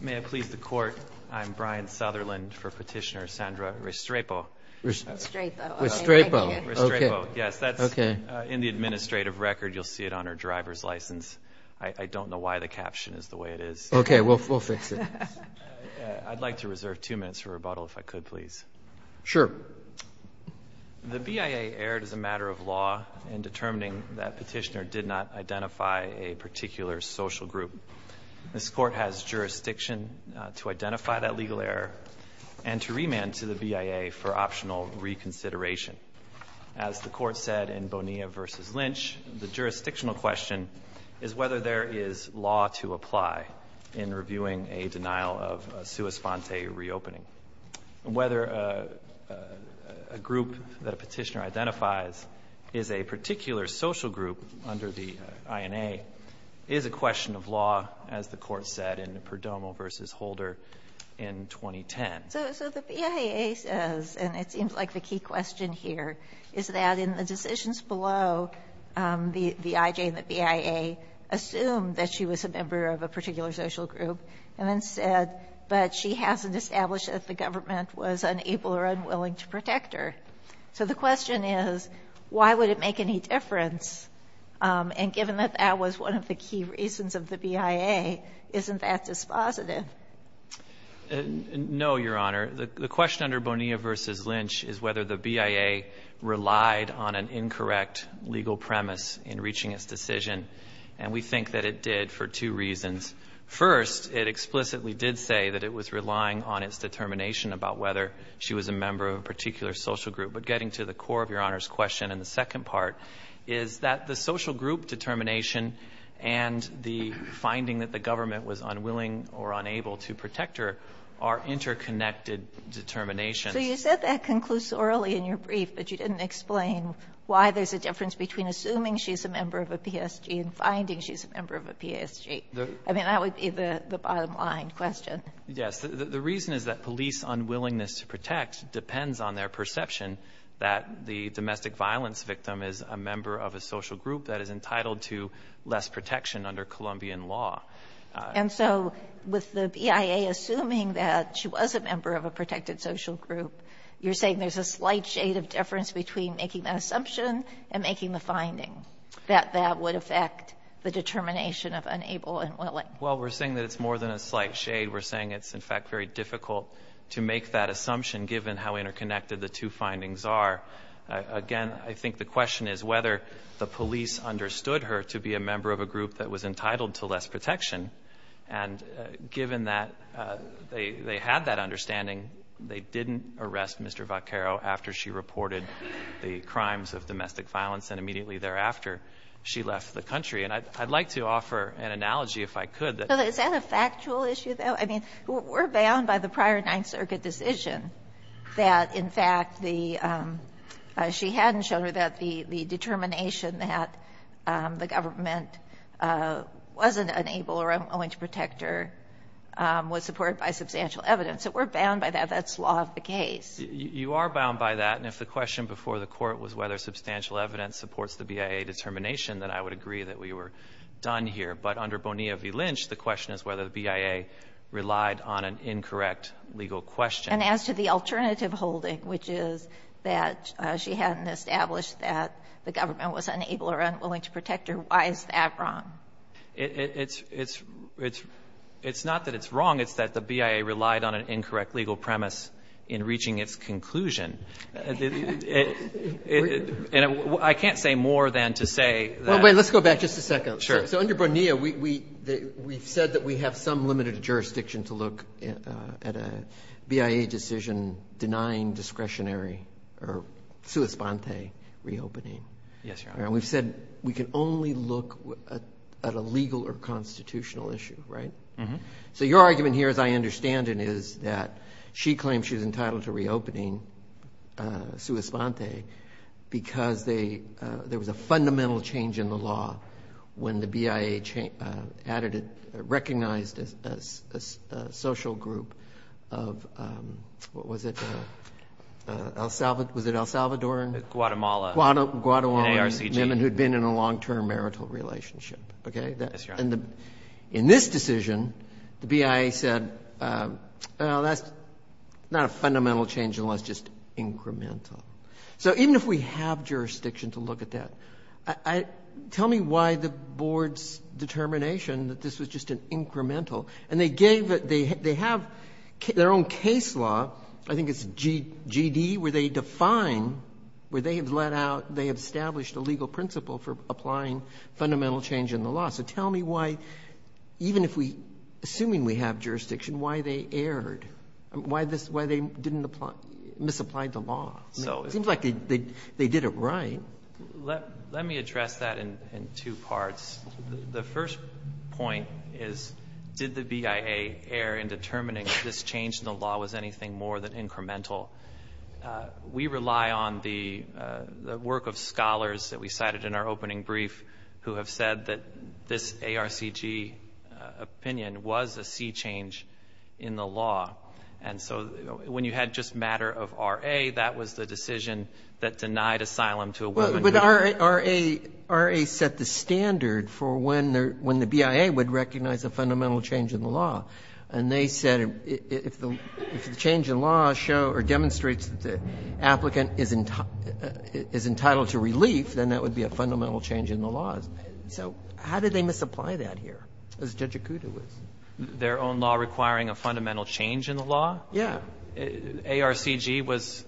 May it please the Court, I'm Brian Sutherland for Petitioner Sandra Restrepo. Restrepo. Restrepo. Restrepo, yes. That's in the administrative record. You'll see it on her driver's license. I don't know why the caption is the way it is. Okay, we'll fix it. I'd like to reserve two minutes for rebuttal, if I could, please. Sure. The BIA erred as a matter of law in determining that Petitioner did not identify a particular social group. This Court has jurisdiction to identify that legal error and to remand to the BIA for optional reconsideration. As the Court said in Bonilla v. Lynch, the jurisdictional question is whether there is law to apply in reviewing a denial of a sua sponte reopening. Whether a group that a Petitioner identifies is a particular social group under the INA is a question of law, as the Court said in Perdomo v. Holder in 2010. So the BIA says, and it seems like the key question here, is that in the decisions below the IJ and the BIA assumed that she was a member of a particular social group and then said, but she hasn't established that the government was unable or unwilling to protect her. So the question is, why would it make any difference? And given that that was one of the key reasons of the BIA, isn't that dispositive? No, Your Honor. The question under Bonilla v. Lynch is whether the BIA relied on an incorrect legal premise in reaching its decision, and we think that it did for two reasons. First, it explicitly did say that it was relying on its determination about whether she was a member of a particular social group. But getting to the core of Your Honor's question and the second part is that the social group determination and the finding that the government was unwilling or unable to protect her are interconnected determinations. So you said that conclusorily in your brief, but you didn't explain why there's a difference between assuming she's a member of a PSG and finding she's a member of a PSG. I mean, that would be the bottom line question. Yes. The reason is that police unwillingness to protect depends on their perception that the domestic violence victim is a member of a social group that is entitled to less protection under Colombian law. And so with the BIA assuming that she was a member of a protected social group, you're saying there's a slight shade of difference between making that assumption and making the finding that that would affect the determination of unable and willing. Well, we're saying that it's more than a slight shade. We're saying it's, in fact, very difficult to make that assumption given how interconnected the two findings are. Again, I think the question is whether the police understood her to be a member of a group that was entitled to less protection, and given that they had that understanding, they didn't arrest Mr. Vaccaro after she reported the crimes of domestic violence, and immediately thereafter she left the country. And I'd like to offer an analogy, if I could. Is that a factual issue, though? I mean, we're bound by the prior Ninth Circuit decision that, in fact, she hadn't shown that the determination that the government wasn't unable or unwilling to protect her was supported by substantial evidence. So we're bound by that. That's law of the case. You are bound by that, and if the question before the Court was whether substantial evidence supports the BIA determination, then I would agree that we were done here. But under Bonilla v. Lynch, the question is whether the BIA relied on an incorrect legal question. And as to the alternative holding, which is that she hadn't established that the government was unable or unwilling to protect her, why is that wrong? It's not that it's wrong. It's that the BIA relied on an incorrect legal premise in reaching its conclusion. And I can't say more than to say that. Well, wait, let's go back just a second. Sure. So under Bonilla, we've said that we have some limited jurisdiction to look at a BIA decision denying discretionary or sua sponte reopening. Yes, Your Honor. And we've said we can only look at a legal or constitutional issue, right? Mm-hmm. So your argument here, as I understand it, is that she claims she's entitled to reopening sua sponte because there was a fundamental change in the law when the BIA recognized a social group of what was it? Was it El Salvadoran? Guatemala. Guatemalan women who had been in a long-term marital relationship, okay? Yes, Your Honor. And in this decision, the BIA said, well, that's not a fundamental change in the law. It's just incremental. So even if we have jurisdiction to look at that, tell me why the board's determination that this was just an incremental and they have their own case law, I think it's GD, where they define, where they have established a legal principle for applying fundamental change in the law. So tell me why, even if we, assuming we have jurisdiction, why they erred, why they didn't apply, misapplied the law. It seems like they did it right. Let me address that in two parts. The first point is, did the BIA err in determining if this change in the law was anything more than incremental? We rely on the work of scholars that we cited in our opening brief who have said that this ARCG opinion was a sea change in the law. And so when you had just matter of RA, that was the decision that denied asylum to a woman. But RA set the standard for when the BIA would recognize a fundamental change in the law. And they said if the change in law show or demonstrates that the applicant is entitled to relief, then that would be a fundamental change in the law. So how did they misapply that here, as Judge Akuta was? Their own law requiring a fundamental change in the law? Yeah. ARCG was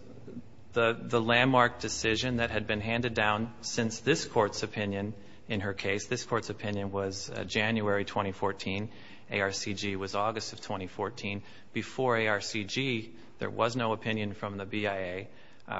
the landmark decision that had been handed down since this Court's opinion in her case. This Court's opinion was January 2014. ARCG was August of 2014. Before ARCG, there was no opinion from the BIA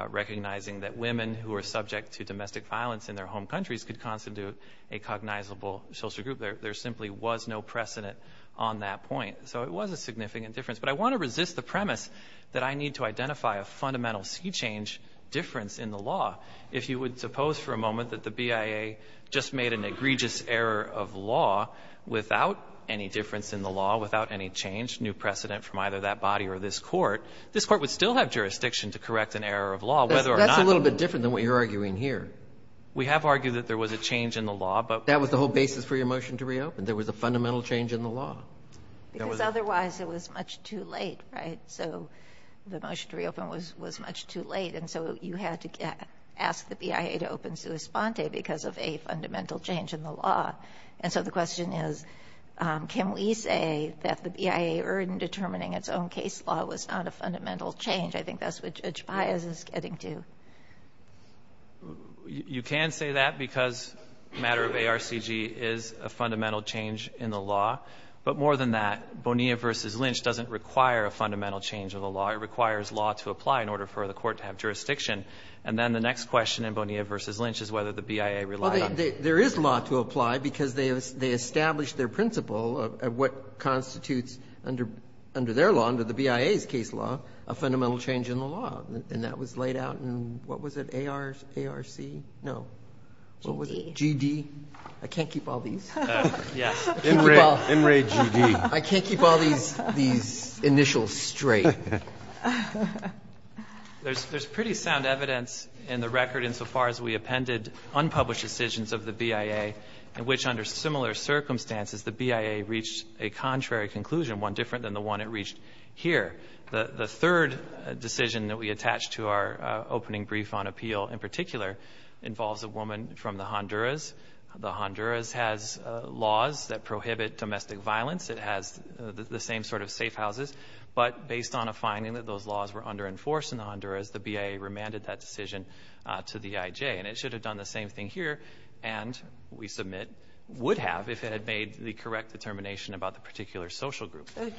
recognizing that women who are subject to domestic violence in their home countries could constitute a cognizable social group. There simply was no precedent on that point. So it was a significant difference. But I want to resist the premise that I need to identify a fundamental sea change difference in the law. If you would suppose for a moment that the BIA just made an egregious error of law without any difference in the law, without any change, new precedent from either that body or this Court, this Court would still have jurisdiction to correct an error of law, whether or not. That's a little bit different than what you're arguing here. We have argued that there was a change in the law. That was the whole basis for your motion to reopen. There was a fundamental change in the law. Because otherwise it was much too late, right? So the motion to reopen was much too late. And so you had to ask the BIA to open sua sponte because of a fundamental change in the law. And so the question is, can we say that the BIA, in determining its own case law, was not a fundamental change? I think that's what Judge Baez is getting to. You can say that because the matter of ARCG is a fundamental change in the law. But more than that, Bonilla v. Lynch doesn't require a fundamental change of the law. It requires law to apply in order for the Court to have jurisdiction. And then the next question in Bonilla v. Lynch is whether the BIA relied on it. There is law to apply because they established their principle of what constitutes under their law, under the BIA's case law, a fundamental change in the law. And that was laid out in, what was it, ARC? No. What was it? GD. I can't keep all these. Yes. In re GD. I can't keep all these initials straight. There's pretty sound evidence in the record insofar as we appended unpublished decisions of the BIA in which, under similar circumstances, the BIA reached a contrary conclusion, one different than the one it reached here. The third decision that we attached to our opening brief on appeal in particular involves a woman from the Honduras. The Honduras has laws that prohibit domestic violence. It has the same sort of safe houses, but based on a finding that those laws were under-enforced in the Honduras, the BIA remanded that decision to the IJ. And it should have done the same thing here and, we submit, would have if it had made the correct determination about the particular social group. So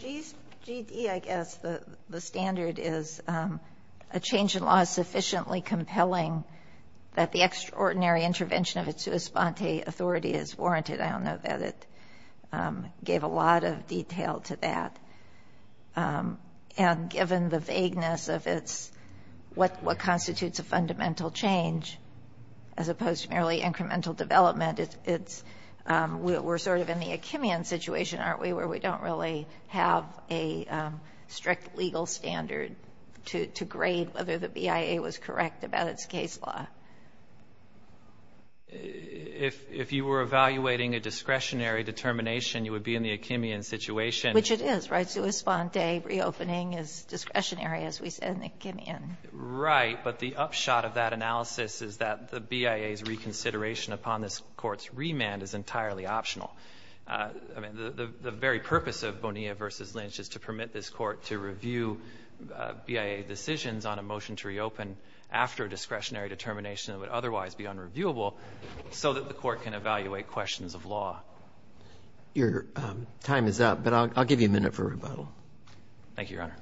GD, I guess, the standard is a change in law is sufficiently compelling that the extraordinary intervention of its sua sponte authority is warranted. I don't know that it gave a lot of detail to that. And given the vagueness of what constitutes a fundamental change, as opposed to merely incremental development, we're sort of in the Achimian situation, aren't we, where we don't really have a strict legal standard to grade whether the BIA was correct about its case law. If you were evaluating a discretionary determination, you would be in the Achimian situation. Which it is, right? Sua sponte reopening is discretionary, as we said, in the Achimian. Right. But the upshot of that analysis is that the BIA's reconsideration upon this Court's remand is entirely optional. I mean, the very purpose of Bonilla v. Lynch is to permit this Court to review BIA decisions on a motion to reopen after a discretionary determination that would otherwise be unreviewable so that the Court can evaluate questions of law. Your time is up, but I'll give you a minute for rebuttal. Thank you, Your Honor.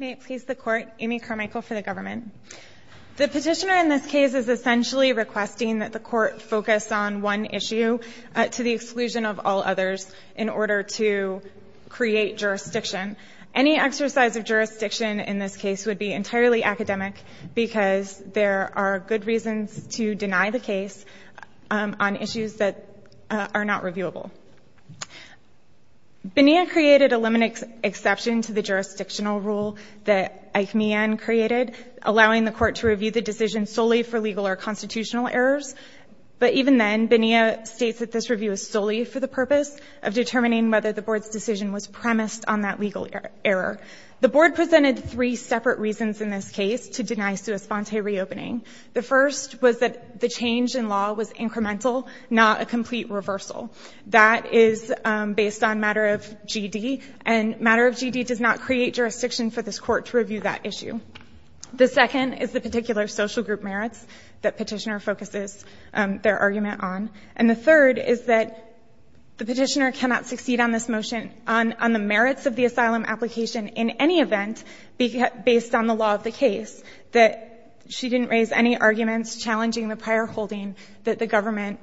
May it please the Court. Amy Carmichael for the government. The petitioner in this case is essentially requesting that the Court focus on one issue to the exclusion of all others in order to create jurisdiction. Any exercise of jurisdiction in this case would be entirely academic because there are good reasons to deny the case on issues that are not reviewable. Bonilla created a limited exception to the jurisdictional rule that Achimian created, allowing the Court to review the decision solely for legal or constitutional errors. But even then, Bonilla states that this review is solely for the purpose of determining whether the Board's decision was premised on that legal error. The Board presented three separate reasons in this case to deny sua sponte reopening. The first was that the change in law was incremental, not a complete reversal. That is based on matter of GD, and matter of GD does not create jurisdiction for this Court to review that issue. The second is the particular social group merits that Petitioner focuses their argument on. And the third is that the Petitioner cannot succeed on this motion on the merits of the asylum application in any event based on the law of the case, that she didn't raise any arguments challenging the prior holding that the government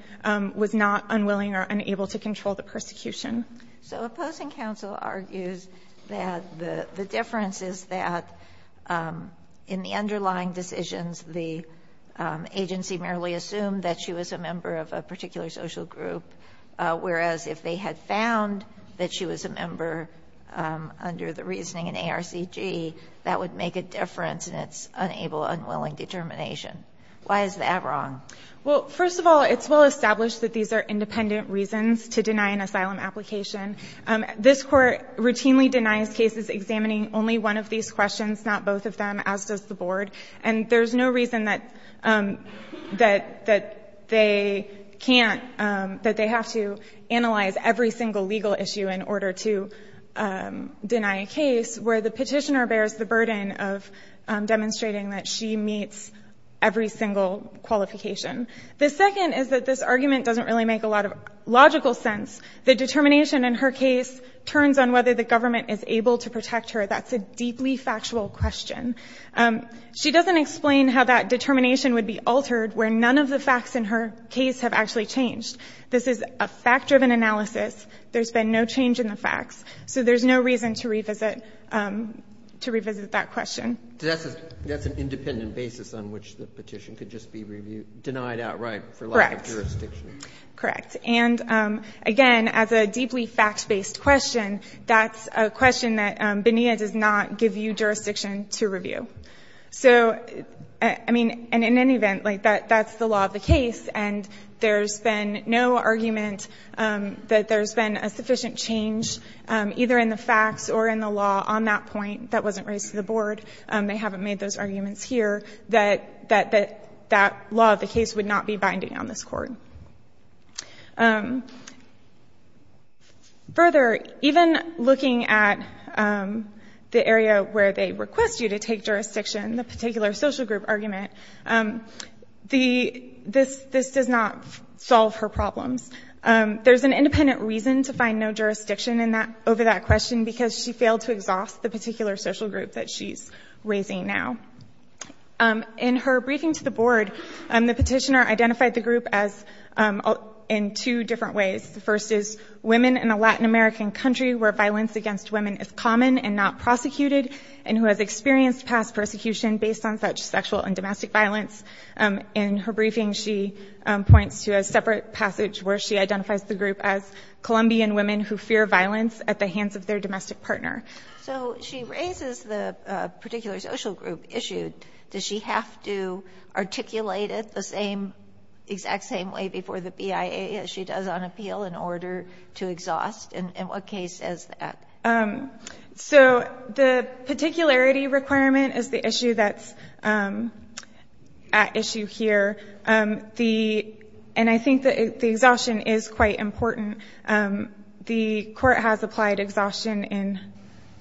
was not unwilling or unable to control the persecution. So opposing counsel argues that the difference is that in the underlying decisions, the agency merely assumed that she was a member of a particular social group, whereas if they had found that she was a member under the reasoning in ARCG, that would make a difference in its unable, unwilling determination. Why is that wrong? Well, first of all, it's well established that these are independent reasons to deny an application. This Court routinely denies cases examining only one of these questions, not both of them, as does the Board. And there's no reason that they can't, that they have to analyze every single legal issue in order to deny a case where the Petitioner bears the burden of demonstrating that she meets every single qualification. The second is that this argument doesn't really make a lot of logical sense. The determination in her case turns on whether the government is able to protect her. That's a deeply factual question. She doesn't explain how that determination would be altered where none of the facts in her case have actually changed. This is a fact-driven analysis. There's been no change in the facts. So there's no reason to revisit that question. That's an independent basis on which the petition could just be denied outright for lack of jurisdiction. Correct. Correct. Correct. And, again, as a deeply fact-based question, that's a question that BNEA does not give you jurisdiction to review. So, I mean, in any event, that's the law of the case, and there's been no argument that there's been a sufficient change, either in the facts or in the law, on that point that wasn't raised to the Board. They haven't made those arguments here, that that law of the case would not be binding on this Court. Further, even looking at the area where they request you to take jurisdiction, the particular social group argument, this does not solve her problems. There's an independent reason to find no jurisdiction over that question, because she failed to exhaust the particular social group that she's raising now. In her briefing to the Board, the petitioner identified the group in two different ways. The first is women in a Latin American country where violence against women is common and not prosecuted, and who has experienced past persecution based on such sexual and domestic violence. In her briefing, she points to a separate passage where she identifies the group as Colombian women who fear violence at the hands of their domestic partner. So she raises the particular social group issue. Does she have to articulate it the same, exact same way before the BIA as she does on appeal in order to exhaust? In what case is that? So the particularity requirement is the issue that's at issue here. And I think the exhaustion is quite important. The court has applied exhaustion in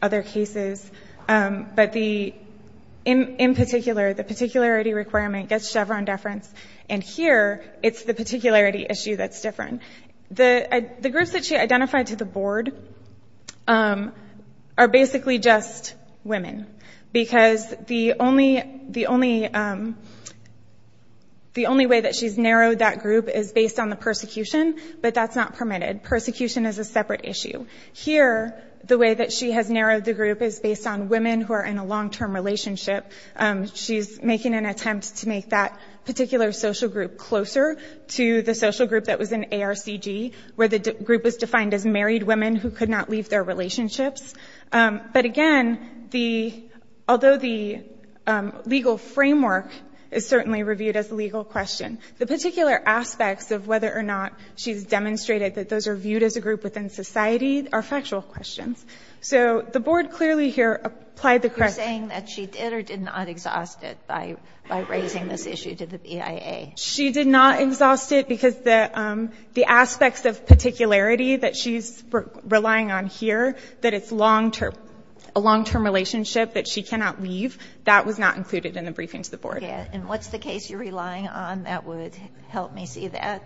other cases. But in particular, the particularity requirement gets Chevron deference. And here, it's the particularity issue that's different. The groups that she identified to the Board are basically just women, because the only way that she's narrowed that group is based on the persecution, but that's not permitted. Persecution is a separate issue. Here, the way that she has narrowed the group is based on women who are in a long-term relationship. She's making an attempt to make that particular social group closer to the social group that was in ARCG, where the group was defined as married women who could not leave their relationships. But again, although the legal framework is certainly reviewed as a legal question, the particular aspects of whether or not she's demonstrated that those are viewed as a group within society are factual questions. So the Board clearly here applied the correct... You're saying that she did or did not exhaust it by raising this issue to the BIA? She did not exhaust it, because the aspects of particularity that she's relying on here, that it's a long-term relationship that she cannot leave, that was not included in the briefing to the Board. And what's the case you're relying on that would help me see that?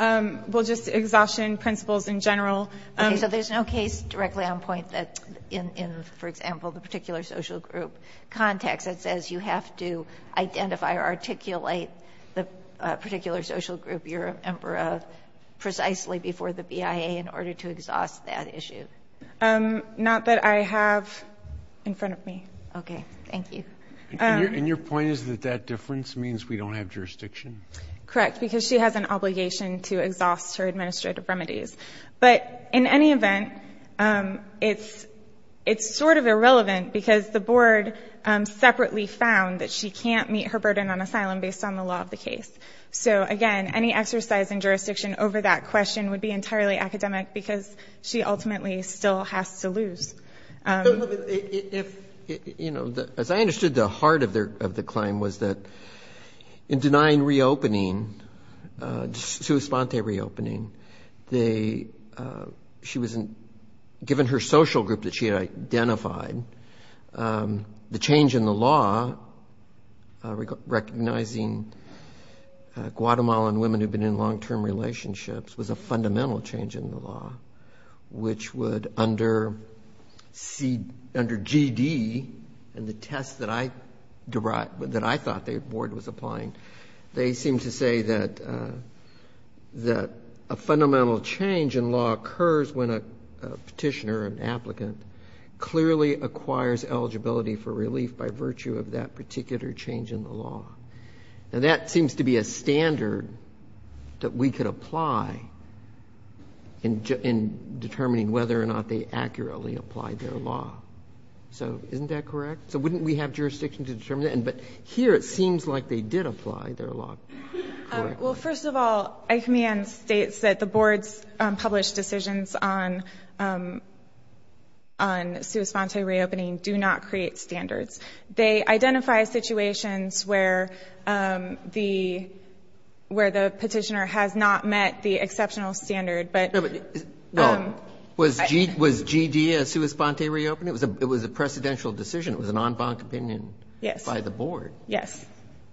Well, just exhaustion principles in general. Okay, so there's no case directly on point that in, for example, the particular social group context that says you have to identify or articulate the particular social group you're a member of precisely before the BIA in order to exhaust that issue? Not that I have in front of me. Okay, thank you. And your point is that that difference means we don't have jurisdiction? Correct, because she has an obligation to exhaust her administrative remedies. But in any event, it's sort of irrelevant, because the Board separately found that she can't meet her burden on asylum based on the law of the case. So, again, any exercise in jurisdiction over that question would be entirely academic, because she ultimately still has to lose. If, you know, as I understood the heart of the claim was that in denying reopening, sui sponte reopening, she wasn't, given her social group that she had identified, the change in the law, recognizing Guatemalan women who've been in long-term relationships was a fundamental change in the law, which would under G.D. and the test that I thought the Board was applying, they seem to say that a fundamental change in law occurs when a woman is released by virtue of that particular change in the law. Now, that seems to be a standard that we could apply in determining whether or not they accurately applied their law. So isn't that correct? So wouldn't we have jurisdiction to determine that? But here it seems like they did apply their law. Well, first of all, ICMAN states that the Board's published decisions on sui sponte reopening do not create standards. They identify situations where the petitioner has not met the exceptional standard, but... Was G.D. a sui sponte reopen? It was a precedential decision. It was an en banc opinion by the Board.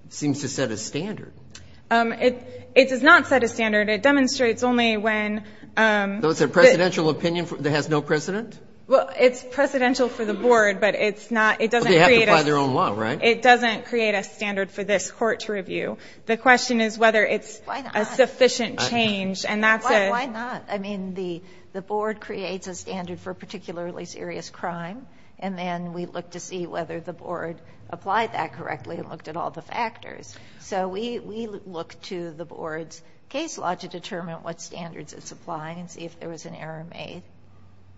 Seems to set a standard. It does not set a standard. It demonstrates only when... So it's a precedential opinion that has no precedent? Well, it's precedential for the Board, but it's not... But they have to apply their own law, right? It doesn't create a standard for this Court to review. The question is whether it's a sufficient change, and that's a... Why not? I mean, the Board creates a standard for a particularly serious crime, and then we look to see whether the Board made a mistake, whether there was an error made.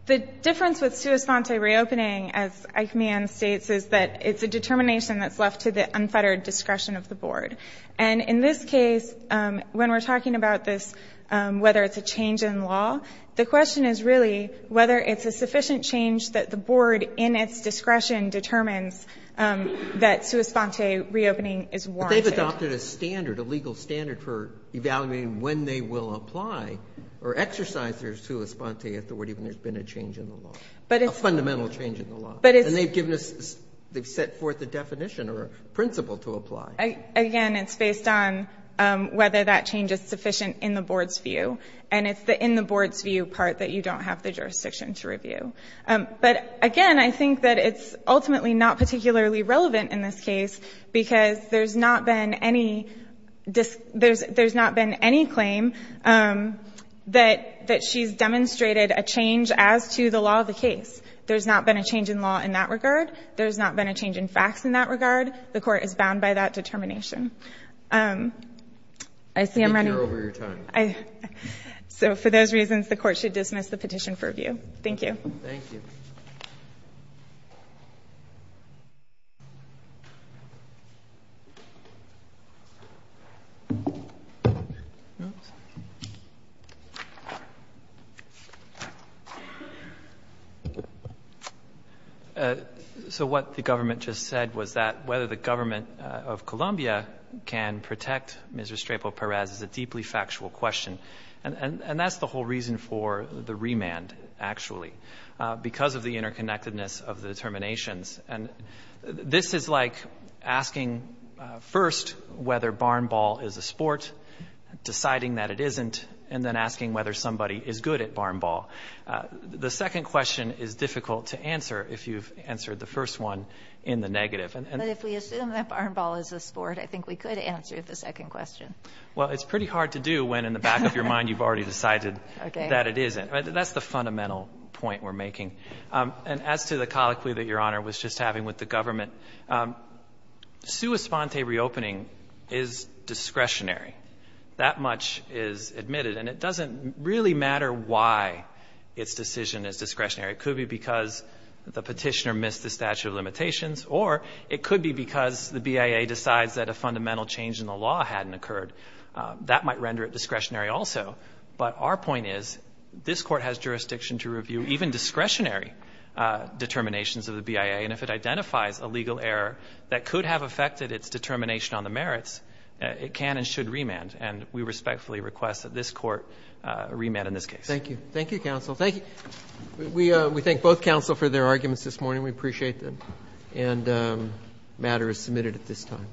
The difference with sui sponte reopening, as ICMAN states, is that it's a determination that's left to the unfettered discretion of the Board. And in this case, when we're talking about this, whether it's a change in law, the question is really whether it's a sufficient change that the Board in its discretion determines that sui sponte reopening is warranted. But they've adopted a standard, a legal standard for evaluating when they will apply or exercise their sui sponte if there would even have been a change in the law, a fundamental change in the law. And they've given us, they've set forth a definition or a principle to apply. Again, it's based on whether that change is sufficient in the Board's view. And it's the in the Board's view part that you don't have the jurisdiction to review. But again, I think that it's ultimately not particularly relevant in this case, because there's not been any claim that she's demonstrated a change as to the law of the case. There's not been a change in law in that regard. There's not been a change in facts in that regard. The Court is bound by that determination. So for those reasons, the Court should dismiss the petition for review. Thank you. So what the government just said was that whether the government of Columbia can protect Mr. Strapel Perez is a deeply factual question. And that's the whole reason for the remand, actually, because of the interconnectedness of the determinations. And this is like asking first whether barn ball is a sport, deciding that it isn't, and then asking whether somebody is good at barn ball. The second question is difficult to answer if you've answered the first one in the negative. But if we assume that barn ball is a sport, I think we could answer the second question. Well, it's pretty hard to do when in the back of your mind you've already decided that it isn't. That's the fundamental point we're making. And as to the colloquy that Your Honor was just having with the government, sua sponte reopening is discretionary. That much is admitted. And it doesn't really matter why its decision is discretionary. It could be because the petitioner missed the statute of limitations, or it could be because the BIA decides that a fundamental change in the law hadn't occurred. That might render it discretionary also. But our point is this Court has jurisdiction to review even discretionary determinations of the BIA. And if it identifies a legal error that could have affected its determination on the merits, it can and should remand. And we respectfully request that this Court remand in this case. Thank you. Thank you, counsel. Thank you. We thank both counsel for their arguments this morning. We appreciate them. And matter is submitted at this time.